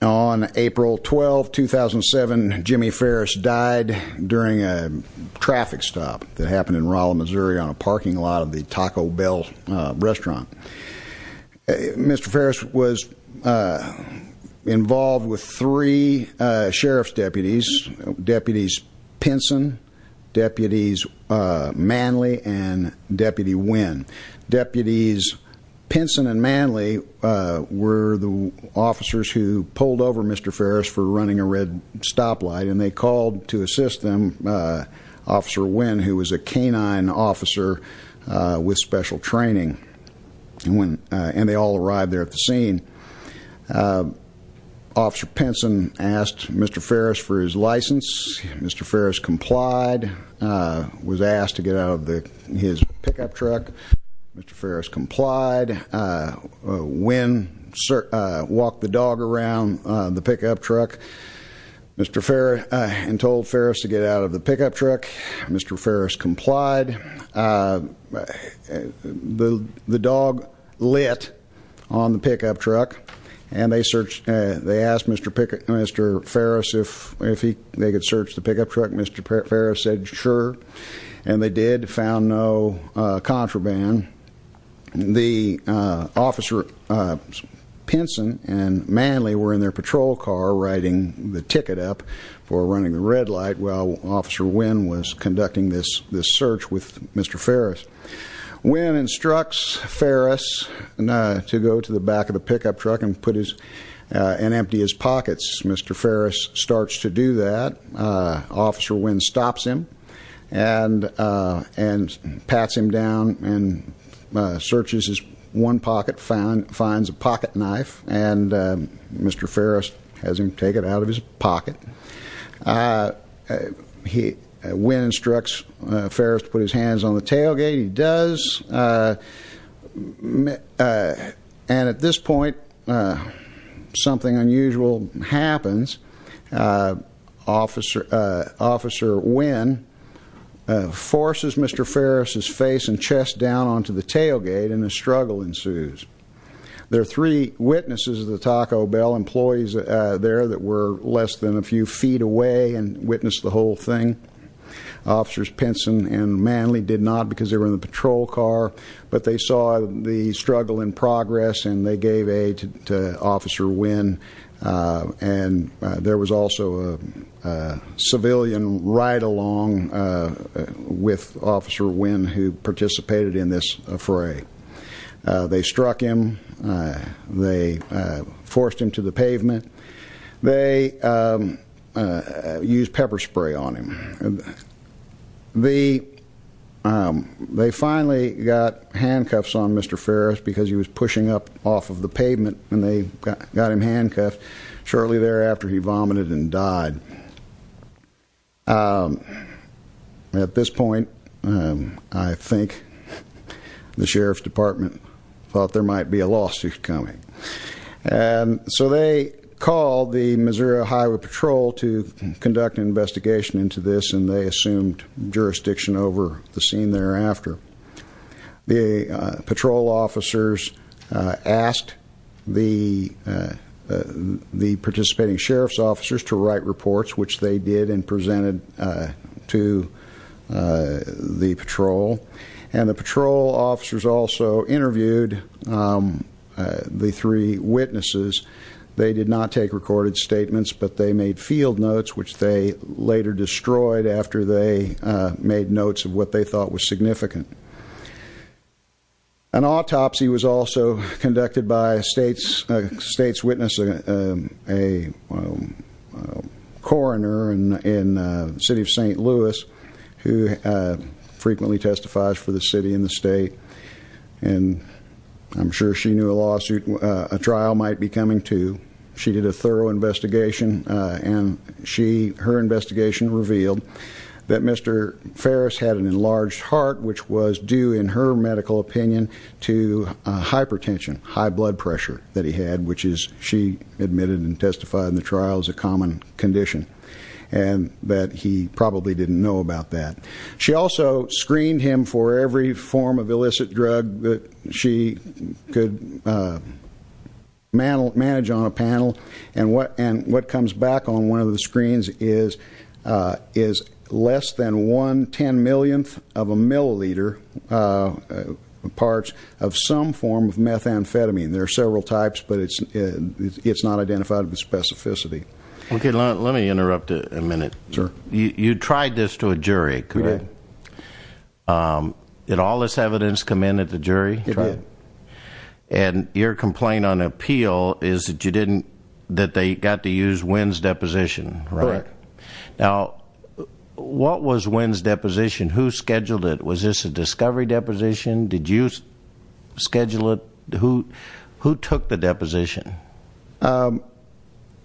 On April 12, 2007, Jimmy Ferris died during a traffic stop that happened in Rolla, Missouri, on a parking lot of the Taco Bell restaurant. Mr. Ferris was involved with three sheriff's deputies, Deputies Pinson, Deputies Manley, and Deputy Winn. Deputies Pinson and Manley were the officers who pulled over Mr. Ferris for running a red stoplight and they called to assist them Officer Winn, who was a canine officer with special training, and they all arrived there at the scene. Officer Pinson asked Mr. Ferris for his license. Mr. Ferris complied, was asked to get out of his pickup truck. Mr. Ferris complied. Winn walked the dog around the pickup truck and told Ferris to get out of the pickup truck. Mr. Ferris complied. The dog lit on the pickup truck and they asked Mr. Ferris if they could search the pickup truck. Mr. Ferris said sure, and they did, found no contraband. Officer Pinson and Manley were in their patrol car writing the ticket up for running the red light while Officer Winn was conducting this search with Mr. Ferris. Winn instructs Ferris to go to the back of the pickup truck and empty his pockets. Mr. Ferris starts to do that. Officer Winn stops him and pats him down and searches his one pocket, finds a pocket knife, and Mr. Ferris has him take it out of his pocket. Winn instructs Ferris to put his hands on the tailgate. He does, and at this point something unusual happens. Officer Winn forces Mr. Ferris's face and chest down onto the tailgate and a struggle ensues. There are three witnesses at the Taco Bell, employees there that were less than a few feet away and witnessed the whole thing. Officers Pinson and Manley did not because they were in the patrol car, but they saw the struggle in progress and they gave aid to Officer Winn. And there was also a civilian right along with Officer Winn who participated in this fray. They struck him. They forced him to the pavement. They used pepper spray on him. They finally got handcuffs on Mr. Ferris because he was pushing up off of the pavement and they got him handcuffed. Shortly thereafter he vomited and died. At this point I think the Sheriff's Department thought there might be a lawsuit coming. So they called the Missouri Highway Patrol to conduct an investigation into this and they assumed jurisdiction over the scene thereafter. The patrol officers asked the participating sheriff's officers to write reports, which they did and presented to the patrol. And the patrol officers also interviewed the three witnesses. They did not take recorded statements, but they made field notes, which they later destroyed after they made notes of what they thought was significant. An autopsy was also conducted by a state's witness, a coroner in the city of St. Louis, who frequently testifies for the city and the state. I'm sure she knew a trial might be coming, too. She did a thorough investigation and her investigation revealed that Mr. Ferris had an enlarged heart, which was due, in her medical opinion, to hypertension, high blood pressure that he had, which she admitted and testified in the trial is a common condition and that he probably didn't know about that. She also screened him for every form of illicit drug that she could manage on a panel. And what comes back on one of the screens is less than one ten-millionth of a milliliter parts of some form of methamphetamine. There are several types, but it's not identified with specificity. Okay, let me interrupt a minute. Sure. You tried this to a jury, correct? We did. Did all this evidence come in at the jury? It did. And your complaint on appeal is that they got to use Wynn's deposition, right? Correct. Now, what was Wynn's deposition? Who scheduled it? Was this a discovery deposition? Did you schedule it? Who took the deposition?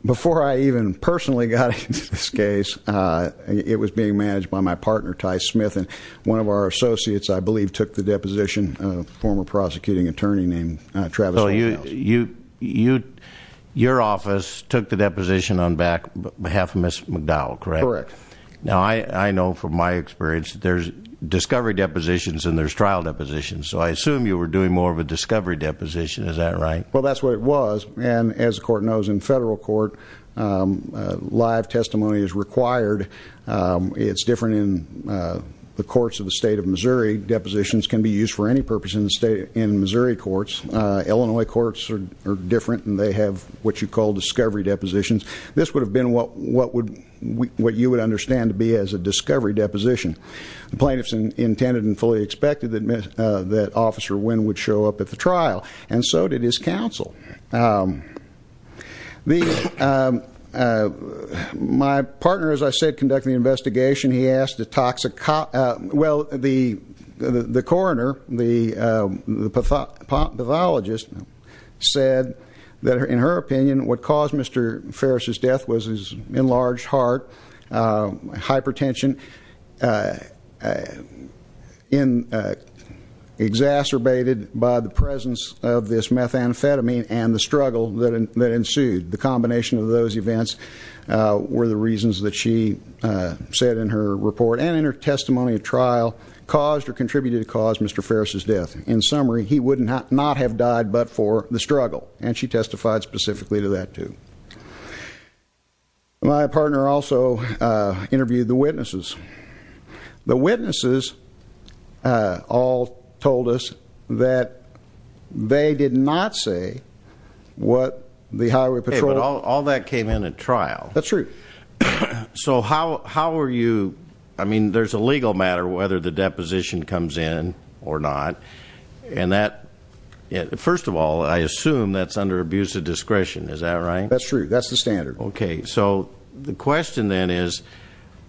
Before I even personally got into this case, it was being managed by my partner, Ty Smith, and one of our associates, I believe, took the deposition, a former prosecuting attorney named Travis O'Neil. So your office took the deposition on behalf of Ms. McDowell, correct? Correct. Now, I know from my experience that there's discovery depositions and there's trial depositions, so I assume you were doing more of a discovery deposition. Is that right? Well, that's what it was. And as the court knows in federal court, live testimony is required. It's different in the courts of the state of Missouri. Depositions can be used for any purpose in Missouri courts. Illinois courts are different, and they have what you call discovery depositions. This would have been what you would understand to be as a discovery deposition. The plaintiffs intended and fully expected that Officer Wynn would show up at the trial, and so did his counsel. My partner, as I said, conducted the investigation. He asked a toxicologist. Well, the coroner, the pathologist, said that, in her opinion, what caused Mr. Ferris' death was his enlarged heart, hypertension, and exacerbated by the presence of this methamphetamine and the struggle that ensued. The combination of those events were the reasons that she said in her report and in her testimony at trial caused or contributed to cause Mr. Ferris' death. In summary, he would not have died but for the struggle, and she testified specifically to that, too. My partner also interviewed the witnesses. The witnesses all told us that they did not say what the Highway Patrol. Hey, but all that came in at trial. That's true. So how are you, I mean, there's a legal matter whether the deposition comes in or not, and that, first of all, I assume that's under abuse of discretion. Is that right? That's true. That's the standard. Okay. So the question then is,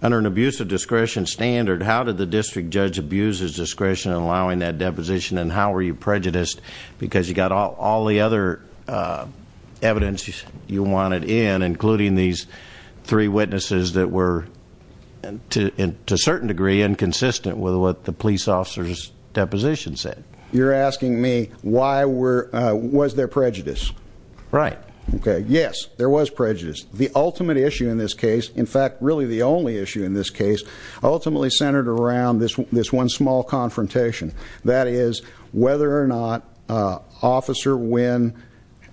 under an abuse of discretion standard, how did the district judge abuse his discretion in allowing that deposition, and how were you prejudiced because you got all the other evidence you wanted in, including these three witnesses that were, to a certain degree, inconsistent with what the police officer's deposition said? You're asking me why was there prejudice? Right. Okay. Yes, there was prejudice. The ultimate issue in this case, in fact, really the only issue in this case, ultimately centered around this one small confrontation, that is whether or not Officer Wynn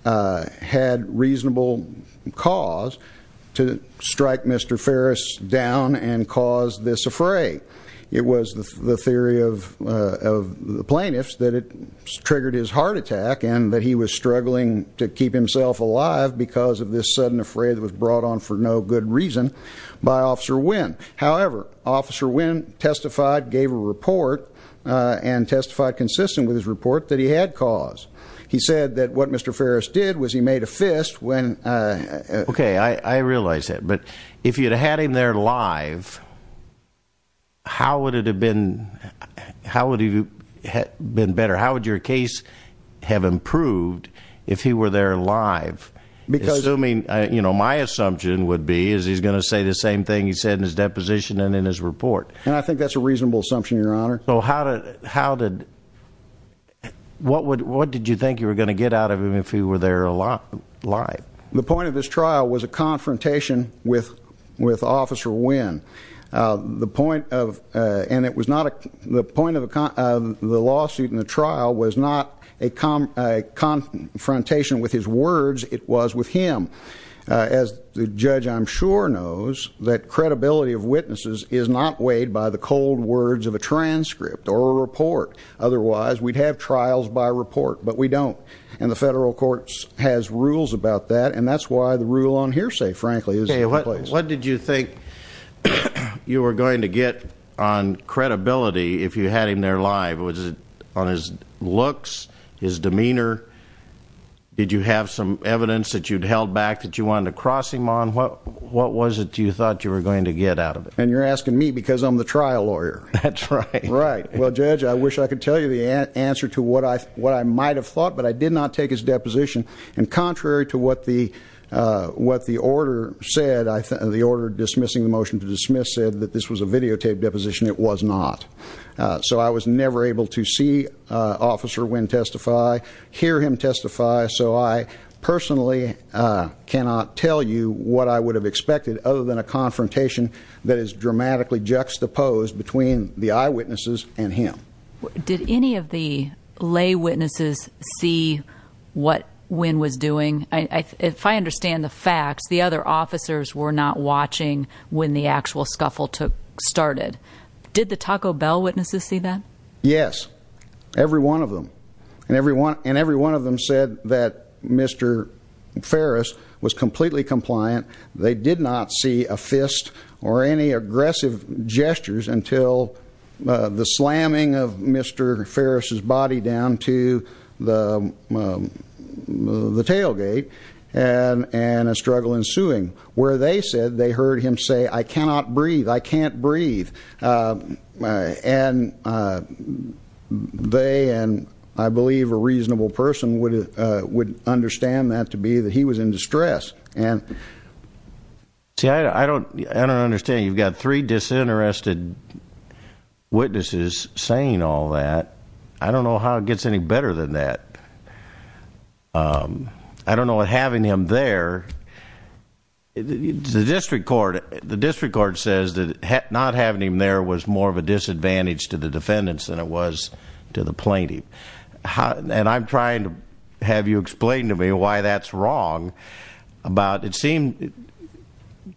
had reasonable cause to strike Mr. Ferris down and cause this affray. It was the theory of the plaintiffs that it triggered his heart attack and that he was struggling to keep himself alive because of this sudden affray that was brought on for no good reason by Officer Wynn. However, Officer Wynn testified, gave a report, and testified consistent with his report that he had cause. He said that what Mr. Ferris did was he made a fist when he ---- Okay. I realize that. But if you had had him there live, how would it have been better? How would your case have improved if he were there live? Assuming my assumption would be is he's going to say the same thing he said in his deposition and in his report. I think that's a reasonable assumption, Your Honor. What did you think you were going to get out of him if he were there live? The point of this trial was a confrontation with Officer Wynn. The point of the lawsuit and the trial was not a confrontation with his words. It was with him. As the judge, I'm sure, knows that credibility of witnesses is not weighed by the cold words of a transcript or a report. Otherwise, we'd have trials by report, but we don't. And the federal courts has rules about that, and that's why the rule on hearsay, frankly, is in place. What did you think you were going to get on credibility if you had him there live? Was it on his looks, his demeanor? Did you have some evidence that you'd held back that you wanted to cross him on? What was it you thought you were going to get out of it? And you're asking me because I'm the trial lawyer. That's right. Right. Well, Judge, I wish I could tell you the answer to what I might have thought, but I did not take his deposition. And contrary to what the order said, the order dismissing the motion to dismiss said that this was a videotaped deposition. It was not. So I was never able to see Officer Wynn testify, hear him testify. So I personally cannot tell you what I would have expected other than a confrontation that is dramatically juxtaposed between the eyewitnesses and him. Did any of the lay witnesses see what Wynn was doing? If I understand the facts, the other officers were not watching when the actual scuffle started. Did the Taco Bell witnesses see that? Yes, every one of them. And every one of them said that Mr. Ferris was completely compliant. They did not see a fist or any aggressive gestures until the slamming of Mr. Ferris' body down to the tailgate and a struggle ensuing. Where they said they heard him say, I cannot breathe, I can't breathe. And they, and I believe a reasonable person, would understand that to be that he was in distress. See, I don't understand. You've got three disinterested witnesses saying all that. I don't know how it gets any better than that. I don't know what having him there, the district court says that not having him there was more of a disadvantage to the defendants than it was to the plaintiff. And I'm trying to have you explain to me why that's wrong. About, it seemed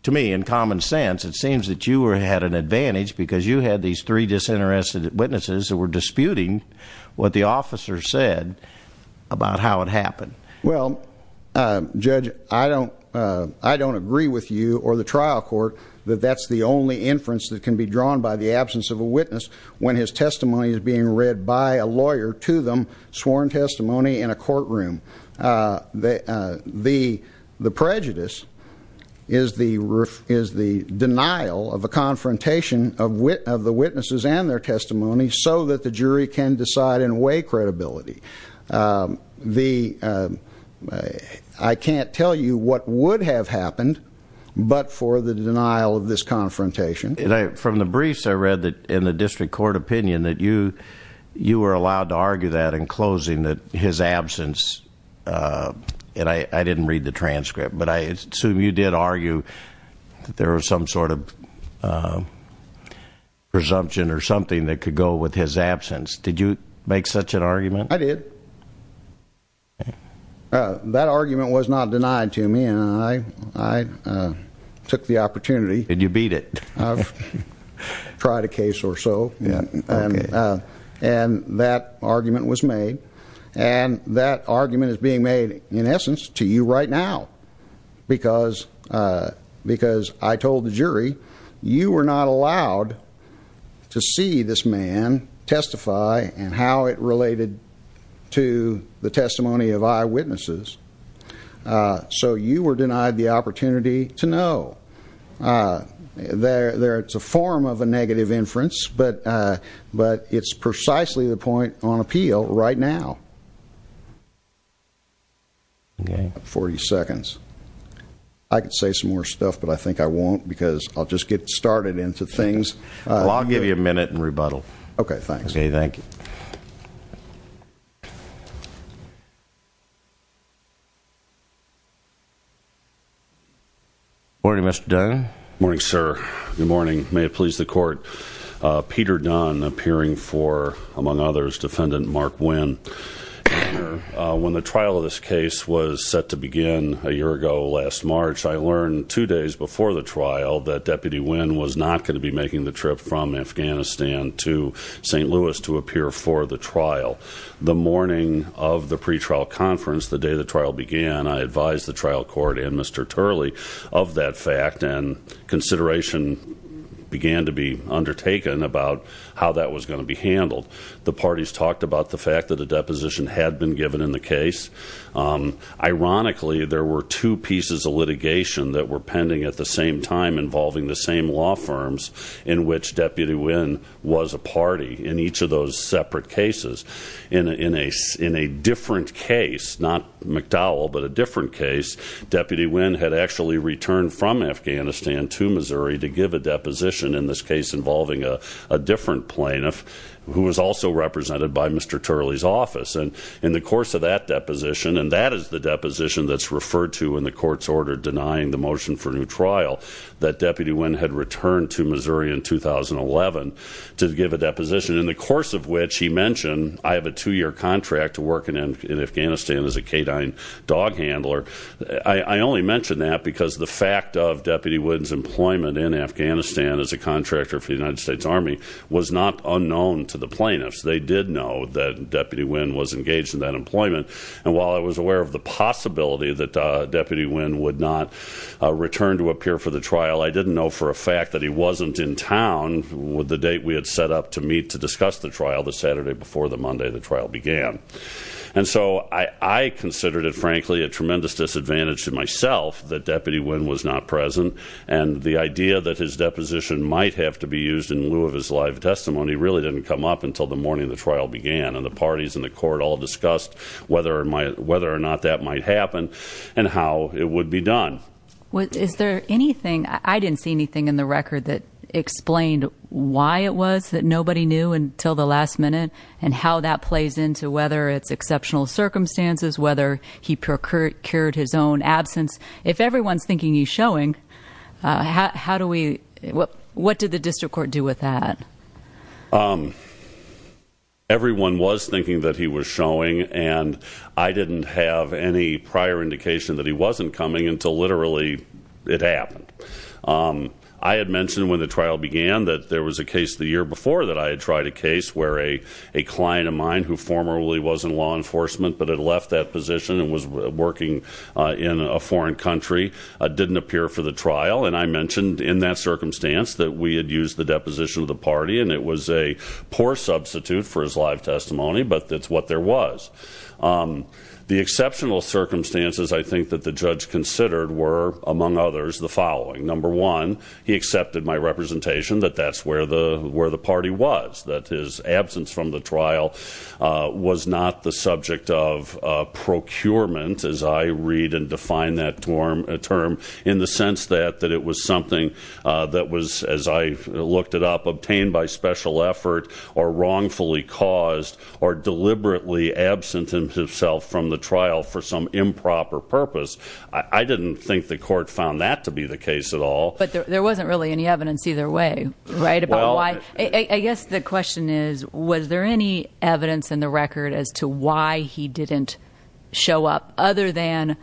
to me in common sense, it seems that you had an advantage because you had these three disinterested witnesses who were disputing what the officer said about how it happened. Well, Judge, I don't agree with you or the trial court that that's the only inference that can be drawn by the absence of a witness when his testimony is being read by a lawyer to them, sworn testimony in a courtroom. The prejudice is the denial of a confrontation of the witnesses and their testimony so that the jury can decide and weigh credibility. I can't tell you what would have happened but for the denial of this confrontation. From the briefs I read in the district court opinion that you were allowed to argue that in closing, that his absence, and I didn't read the transcript, but I assume you did argue that there was some sort of presumption or something that could go with his absence. Did you make such an argument? I did. That argument was not denied to me and I took the opportunity. Did you beat it? I've tried a case or so and that argument was made and that argument is being made in essence to you right now because I told the jury you were not allowed to see this man testify and how it related to the testimony of eyewitnesses. So you were denied the opportunity to know. It's a form of a negative inference but it's precisely the point on appeal right now. 40 seconds. I could say some more stuff but I think I won't because I'll just get started into things. Well, I'll give you a minute and rebuttal. Okay, thanks. Okay, thank you. Morning, Mr. Dunn. Morning, sir. Good morning. May it please the court. Peter Dunn appearing for, among others, Defendant Mark Winn. When the trial of this case was set to begin a year ago last March, I learned two days before the trial that Deputy Winn was not going to be making the trip from Afghanistan to St. Louis to appear for the trial. The morning of the pretrial conference, the day the trial began, I advised the trial court and Mr. Turley of that fact and consideration began to be undertaken about how that was going to be handled. The parties talked about the fact that a deposition had been given in the case. Ironically, there were two pieces of litigation that were pending at the same time involving the same law firms in which Deputy Winn was a party in each of those separate cases. In a different case, not McDowell, but a different case, Deputy Winn had actually returned from Afghanistan to Missouri to give a deposition, in this case involving a different plaintiff who was also represented by Mr. Turley's office. In the course of that deposition, and that is the deposition that's referred to in the court's order denying the motion for new trial, that Deputy Winn had returned to Missouri in 2011 to give a deposition, in the course of which he mentioned, I have a two-year contract to work in Afghanistan as a K-9 dog handler. I only mention that because the fact of Deputy Winn's employment in Afghanistan as a contractor for the United States Army was not unknown to the plaintiffs. They did know that Deputy Winn was engaged in that employment, and while I was aware of the possibility that Deputy Winn would not return to appear for the trial, I didn't know for a fact that he wasn't in town with the date we had set up to meet to discuss the trial, the Saturday before the Monday the trial began. And so I considered it, frankly, a tremendous disadvantage to myself that Deputy Winn was not present, and the idea that his deposition might have to be used in lieu of his live testimony really didn't come up until the morning the trial began, and the parties in the court all discussed whether or not that might happen and how it would be done. Is there anything, I didn't see anything in the record that explained why it was that nobody knew until the last minute, and how that plays into whether it's exceptional circumstances, whether he procured his own absence. If everyone's thinking he's showing, how do we, what did the district court do with that? Everyone was thinking that he was showing, and I didn't have any prior indication that he wasn't coming until literally it happened. I had mentioned when the trial began that there was a case the year before that I had tried a case where a client of mine who formerly was in law enforcement but had left that position and was working in a foreign country didn't appear for the trial, and I mentioned in that circumstance that we had used the deposition of the party, and it was a poor substitute for his live testimony, but it's what there was. The exceptional circumstances I think that the judge considered were, among others, the following. Number one, he accepted my representation that that's where the party was, that his absence from the trial was not the subject of procurement, as I read and define that term, in the sense that it was something that was, as I looked it up, obtained by special effort or wrongfully caused or deliberately absent himself from the trial for some improper purpose. I didn't think the court found that to be the case at all. But there wasn't really any evidence either way, right, about why? I guess the question is, was there any evidence in the record as to why he didn't show up, other than,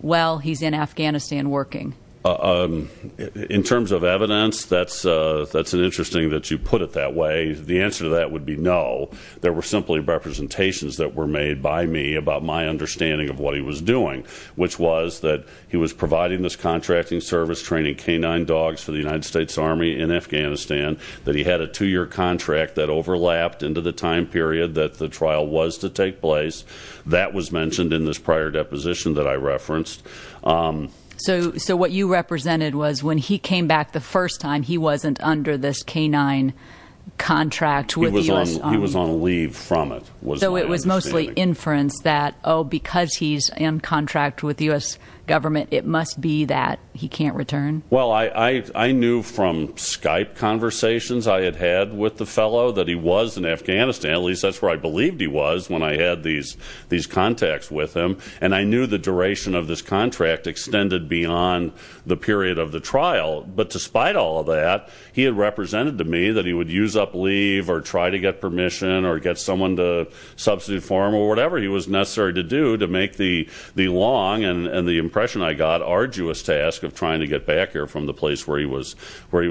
well, he's in Afghanistan working? In terms of evidence, that's an interesting that you put it that way. The answer to that would be no. There were simply representations that were made by me about my understanding of what he was doing, which was that he was providing this contracting service, training canine dogs for the United States Army in Afghanistan, that he had a two-year contract that overlapped into the time period that the trial was to take place. That was mentioned in this prior deposition that I referenced. So what you represented was when he came back the first time, he wasn't under this canine contract with the U.S. Army. He was on leave from it, was my understanding. Oh, because he's in contract with the U.S. government, it must be that he can't return? Well, I knew from Skype conversations I had had with the fellow that he was in Afghanistan, at least that's where I believed he was when I had these contacts with him, and I knew the duration of this contract extended beyond the period of the trial. But despite all of that, he had represented to me that he would use up leave or try to get permission or get someone to substitute for him or whatever he was necessary to do to make the long and the impression I got arduous task of trying to get back here from the place where he was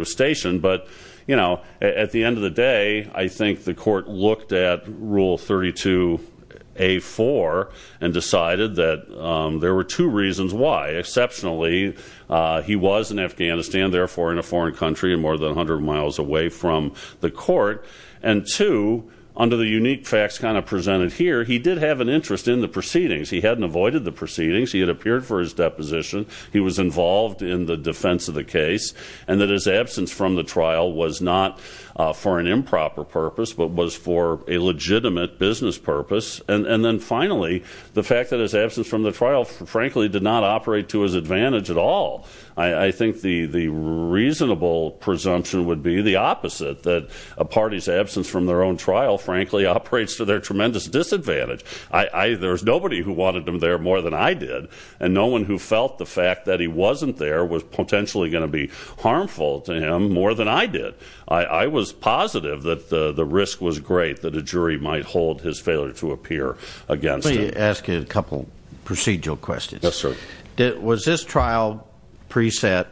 stationed. But, you know, at the end of the day, I think the court looked at Rule 32A-4 and decided that there were two reasons why. Exceptionally, he was in Afghanistan, therefore in a foreign country and more than 100 miles away from the court. And two, under the unique facts kind of presented here, he did have an interest in the proceedings. He hadn't avoided the proceedings. He had appeared for his deposition. He was involved in the defense of the case, and that his absence from the trial was not for an improper purpose but was for a legitimate business purpose. And then finally, the fact that his absence from the trial, frankly, did not operate to his advantage at all. I think the reasonable presumption would be the opposite, that a party's absence from their own trial, frankly, operates to their tremendous disadvantage. There's nobody who wanted him there more than I did, and no one who felt the fact that he wasn't there was potentially going to be harmful to him more than I did. I was positive that the risk was great that a jury might hold his failure to appear against him. Let me ask you a couple procedural questions. Yes, sir. Was this trial preset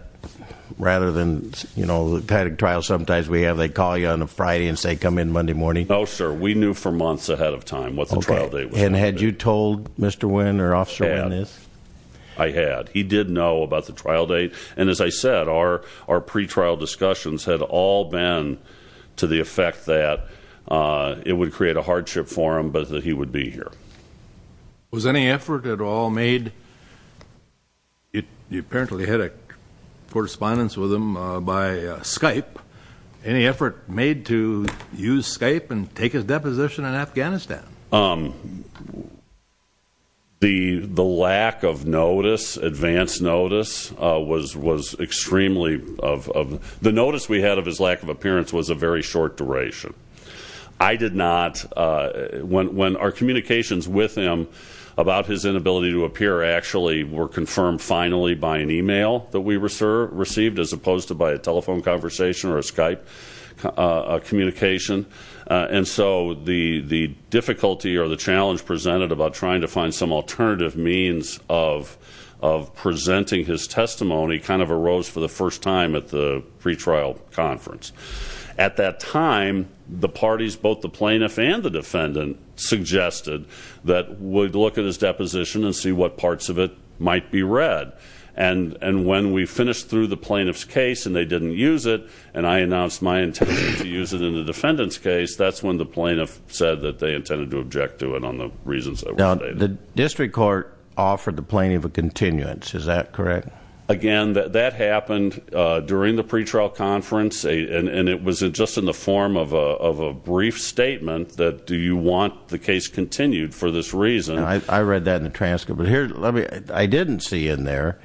rather than, you know, the kind of trial sometimes we have, they call you on a Friday and say come in Monday morning? No, sir. We knew for months ahead of time what the trial date was. Okay. And had you told Mr. Wynn or Officer Wynn this? I had. He did know about the trial date. And as I said, our pretrial discussions had all been to the effect that it would create a hardship for him, but that he would be here. Was any effort at all made? You apparently had a correspondence with him by Skype. Any effort made to use Skype and take his deposition in Afghanistan? The lack of notice, advance notice, was extremely of the notice we had of his lack of appearance was a very short duration. I did not. When our communications with him about his inability to appear actually were confirmed finally by an e-mail that we received as opposed to by a telephone conversation or a Skype communication, and so the difficulty or the challenge presented about trying to find some alternative means of presenting his testimony kind of arose for the first time at the pretrial conference. At that time, the parties, both the plaintiff and the defendant, suggested that we'd look at his deposition and see what parts of it might be read. And when we finished through the plaintiff's case and they didn't use it and I announced my intention to use it in the defendant's case, that's when the plaintiff said that they intended to object to it on the reasons that were stated. Now, the district court offered the plaintiff a continuance. Is that correct? Again, that happened during the pretrial conference, and it was just in the form of a brief statement that do you want the case continued for this reason. I read that in the transcript. I didn't see in there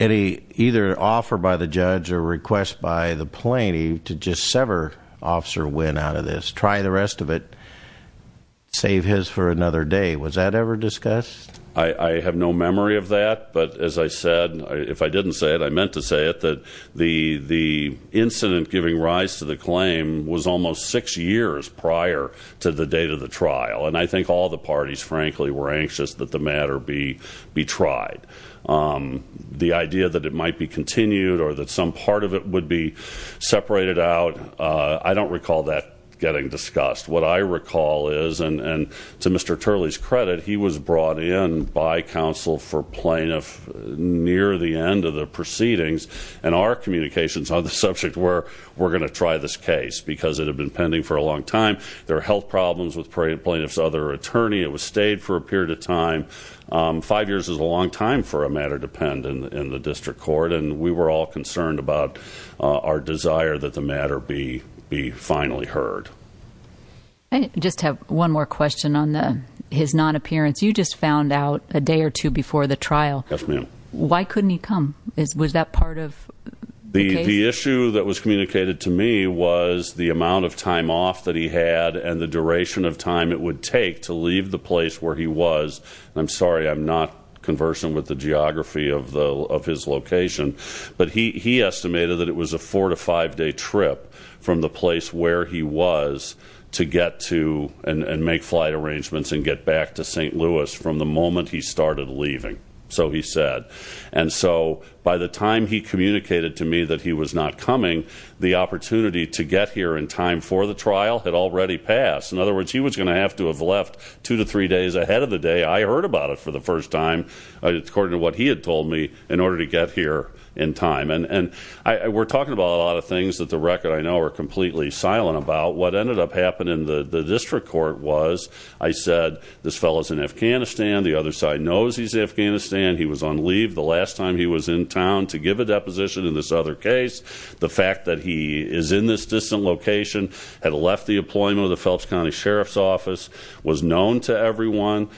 any either offer by the judge or request by the plaintiff to just sever Officer Wynn out of this, try the rest of it, save his for another day. Was that ever discussed? I have no memory of that, but as I said, if I didn't say it, I meant to say it, that the incident giving rise to the claim was almost six years prior to the date of the trial, and I think all the parties, frankly, were anxious that the matter be tried. The idea that it might be continued or that some part of it would be separated out, I don't recall that getting discussed. What I recall is, and to Mr. Turley's credit, he was brought in by counsel for plaintiff near the end of the proceedings, and our communications on the subject were we're going to try this case because it had been pending for a long time. There are health problems with plaintiff's other attorney. It was stayed for a period of time. Five years is a long time for a matter to pend in the district court, and we were all concerned about our desire that the matter be finally heard. I just have one more question on his non-appearance. You just found out a day or two before the trial. Yes, ma'am. Why couldn't he come? Was that part of the case? The issue that was communicated to me was the amount of time off that he had and the duration of time it would take to leave the place where he was. I'm sorry, I'm not conversant with the geography of his location, but he estimated that it was a four- to five-day trip from the place where he was to get to and make flight arrangements and get back to St. Louis from the moment he started leaving, so he said. And so by the time he communicated to me that he was not coming, the opportunity to get here in time for the trial had already passed. In other words, he was going to have to have left two to three days ahead of the day I heard about it for the first time, according to what he had told me, in order to get here in time. And we're talking about a lot of things that the record I know are completely silent about. What ended up happening in the district court was I said, this fellow's in Afghanistan, the other side knows he's in Afghanistan, he was on leave the last time he was in town to give a deposition in this other case. The fact that he is in this distant location, had left the employment of the Phelps County Sheriff's Office, was known to everyone,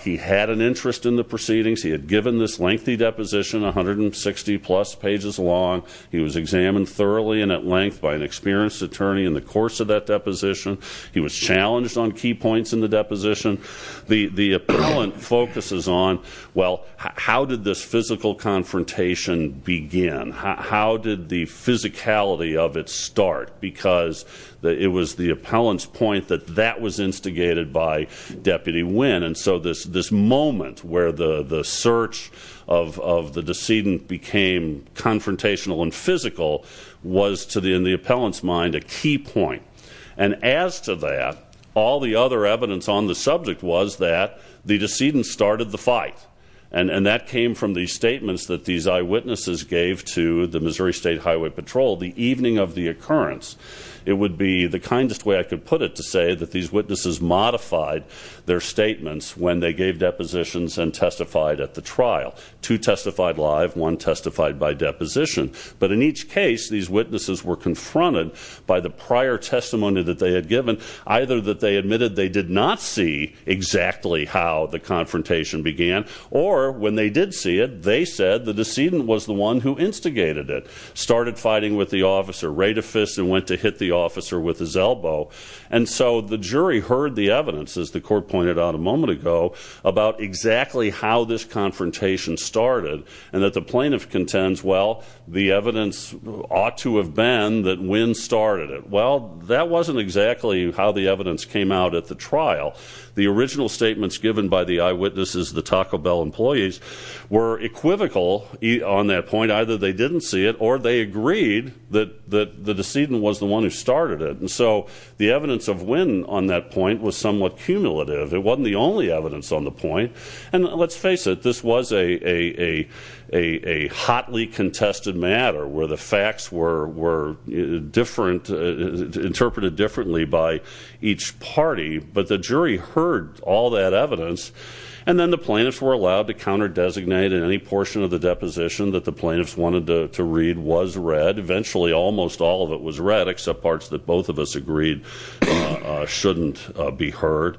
he had an interest in the proceedings, he had given this lengthy deposition, 160-plus pages long. He was examined thoroughly and at length by an experienced attorney in the course of that deposition. He was challenged on key points in the deposition. The appellant focuses on, well, how did this physical confrontation begin? How did the physicality of it start? Because it was the appellant's point that that was instigated by Deputy Wynn. And so this moment where the search of the decedent became confrontational and physical, was to the appellant's mind a key point. And as to that, all the other evidence on the subject was that the decedent started the fight. And that came from the statements that these eyewitnesses gave to the Missouri State Highway Patrol the evening of the occurrence. It would be the kindest way I could put it to say that these witnesses modified their statements when they gave depositions and testified at the trial. Two testified live, one testified by deposition. But in each case, these witnesses were confronted by the prior testimony that they had given, either that they admitted they did not see exactly how the confrontation began, or when they did see it, they said the decedent was the one who instigated it. Started fighting with the officer, rayed a fist and went to hit the officer with his elbow. And so the jury heard the evidence, as the court pointed out a moment ago, about exactly how this confrontation started. And that the plaintiff contends, well, the evidence ought to have been that Wynn started it. Well, that wasn't exactly how the evidence came out at the trial. The original statements given by the eyewitnesses, the Taco Bell employees, were equivocal on that point. Either they didn't see it or they agreed that the decedent was the one who started it. And so the evidence of Wynn on that point was somewhat cumulative. It wasn't the only evidence on the point. And let's face it, this was a hotly contested matter where the facts were different, interpreted differently by each party. But the jury heard all that evidence, and then the plaintiffs were allowed to counter-designate and any portion of the deposition that the plaintiffs wanted to read was read. Eventually, almost all of it was read, except parts that both of us agreed shouldn't be heard.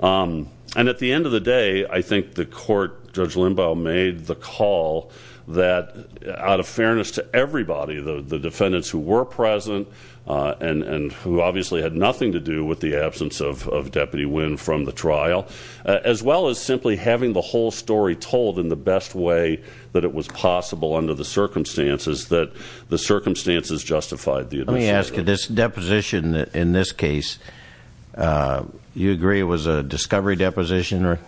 And at the end of the day, I think the court, Judge Limbaugh, made the call that, out of fairness to everybody, the defendants who were present and who obviously had nothing to do with the absence of Deputy Wynn from the trial, as well as simply having the whole story told in the best way that it was possible under the circumstances that the circumstances justified the admission. Let me ask you, this deposition in this case, you agree it was a discovery deposition?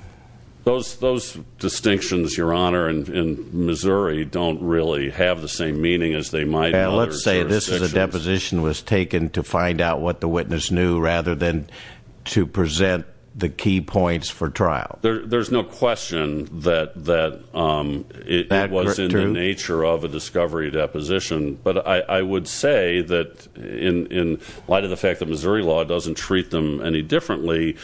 Those distinctions, Your Honor, in Missouri don't really have the same meaning as they might in other jurisdictions. So you're saying this is a deposition that was taken to find out what the witness knew rather than to present the key points for trial? There's no question that it was in the nature of a discovery deposition, but I would say that in light of the fact that Missouri law doesn't treat them any differently,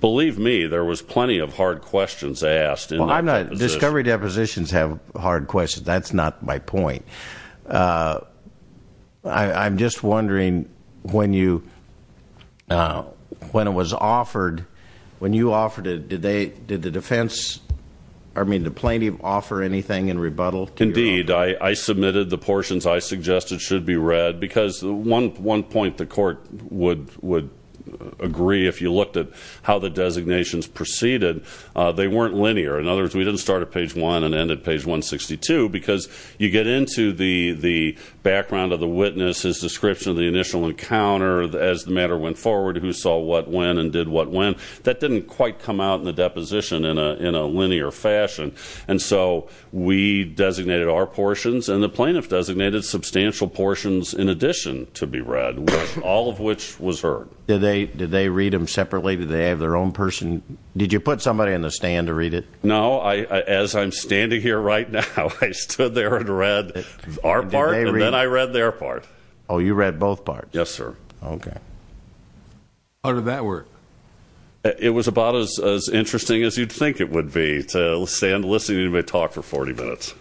believe me, there was plenty of hard questions asked in that deposition. Depositions have hard questions. That's not my point. I'm just wondering when it was offered, when you offered it, did the defense, I mean the plaintiff, offer anything in rebuttal? Indeed. I submitted the portions I suggested should be read because one point the court would agree, if you looked at how the designations proceeded, they weren't linear. In other words, we didn't start at page 1 and end at page 162 because you get into the background of the witness, his description of the initial encounter, as the matter went forward, who saw what when and did what when. That didn't quite come out in the deposition in a linear fashion. And so we designated our portions, and the plaintiff designated substantial portions in addition to be read, all of which was heard. Did they read them separately? Did they have their own person? Did you put somebody in the stand to read it? No. As I'm standing here right now, I stood there and read our part, and then I read their part. Oh, you read both parts. Yes, sir. Okay. How did that work? It was about as interesting as you'd think it would be to stand listening to anybody talk for 40 minutes.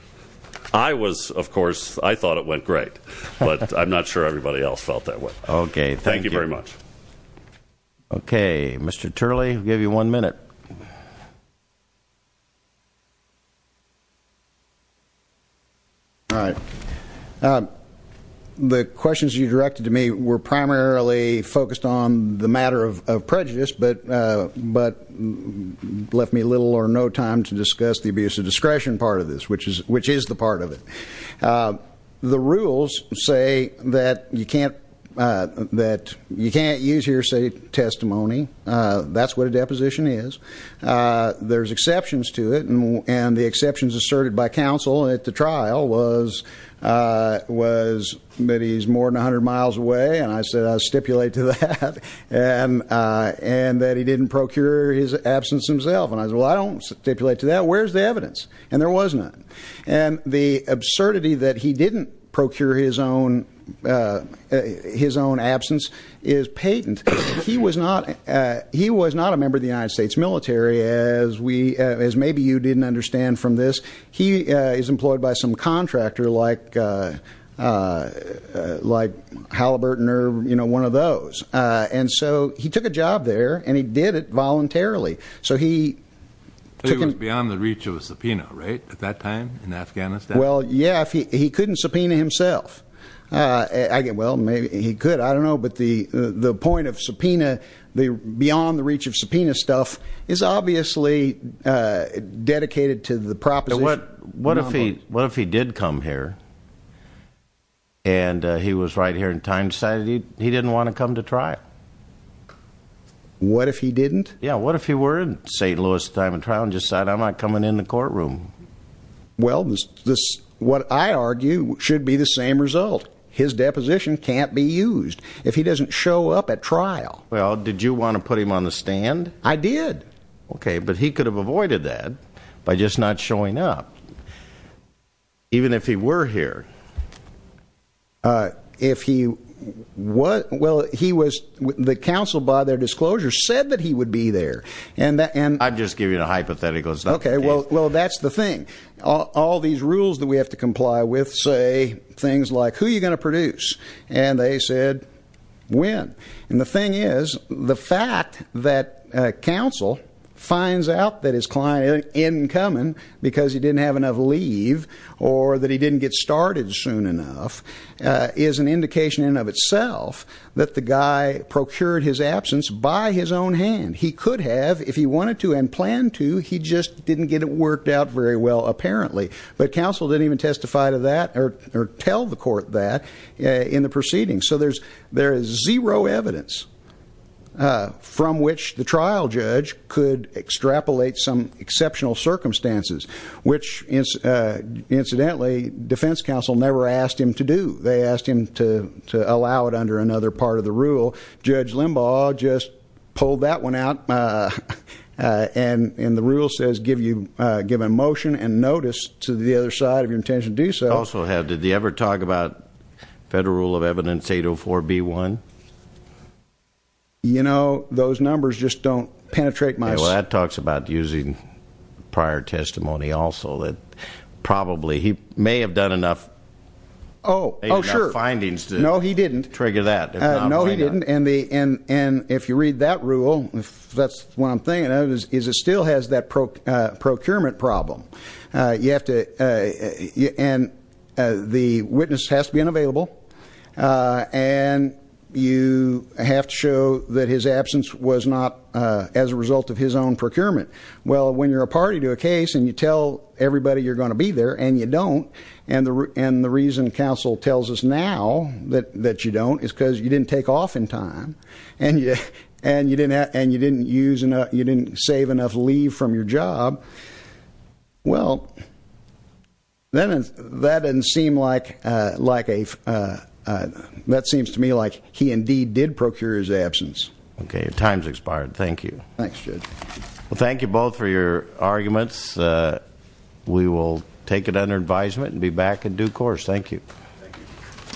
I was, of course, I thought it went great, but I'm not sure everybody else felt that way. Okay. Thank you very much. Okay. Mr. Turley, we'll give you one minute. All right. The questions you directed to me were primarily focused on the matter of prejudice, but left me little or no time to discuss the abuse of discretion part of this, which is the part of it. The rules say that you can't use hearsay testimony. That's what a deposition is. There's exceptions to it, and the exceptions asserted by counsel at the trial was that he's more than 100 miles away, and I said I'll stipulate to that, and that he didn't procure his absence himself. And I said, well, I don't stipulate to that. Where's the evidence? And there was none. And the absurdity that he didn't procure his own absence is patent. He was not a member of the United States military, as maybe you didn't understand from this. He is employed by some contractor like Halliburton or, you know, one of those. And so he took a job there, and he did it voluntarily. So he was beyond the reach of a subpoena, right, at that time in Afghanistan? Well, yeah. He couldn't subpoena himself. Well, maybe he could. I don't know. But the point of subpoena, the beyond the reach of subpoena stuff, is obviously dedicated to the proposition. What if he did come here, and he was right here in time, decided he didn't want to come to trial? What if he didn't? Yeah, what if he were in St. Louis at the time of trial and decided, I'm not coming in the courtroom? Well, what I argue should be the same result. His deposition can't be used if he doesn't show up at trial. Well, did you want to put him on the stand? I did. Okay. But he could have avoided that by just not showing up, even if he were here. Well, the counsel, by their disclosure, said that he would be there. I'm just giving you the hypotheticals. Okay. Well, that's the thing. All these rules that we have to comply with say things like, who are you going to produce? And they said, when? And the thing is, the fact that counsel finds out that his client is incoming because he didn't have enough leave or that he didn't get started soon enough is an indication in and of itself that the guy procured his absence by his own hand. He could have if he wanted to and planned to. He just didn't get it worked out very well, apparently. But counsel didn't even testify to that or tell the court that in the proceedings. So there is zero evidence from which the trial judge could extrapolate some exceptional circumstances, which, incidentally, defense counsel never asked him to do. They asked him to allow it under another part of the rule. Judge Limbaugh just pulled that one out, and the rule says give a motion and notice to the other side of your intention to do so. I also have, did he ever talk about Federal Rule of Evidence 804B1? You know, those numbers just don't penetrate my- Well, that talks about using prior testimony also, that probably he may have done enough- Oh, oh, sure. Findings to- No, he didn't. Trigger that. No, he didn't. And if you read that rule, if that's what I'm thinking of, is it still has that procurement problem. You have to, and the witness has to be unavailable, and you have to show that his absence was not as a result of his own procurement. Well, when you're a party to a case and you tell everybody you're going to be there and you don't, and the reason counsel tells us now that you don't is because you didn't take off in time, and you didn't save enough leave from your job, well, that seems to me like he indeed did procure his absence. Okay, time's expired. Thank you. Thanks, Judge. Well, thank you both for your arguments. We will take it under advisement and be back in due course. Thank you. Thank you.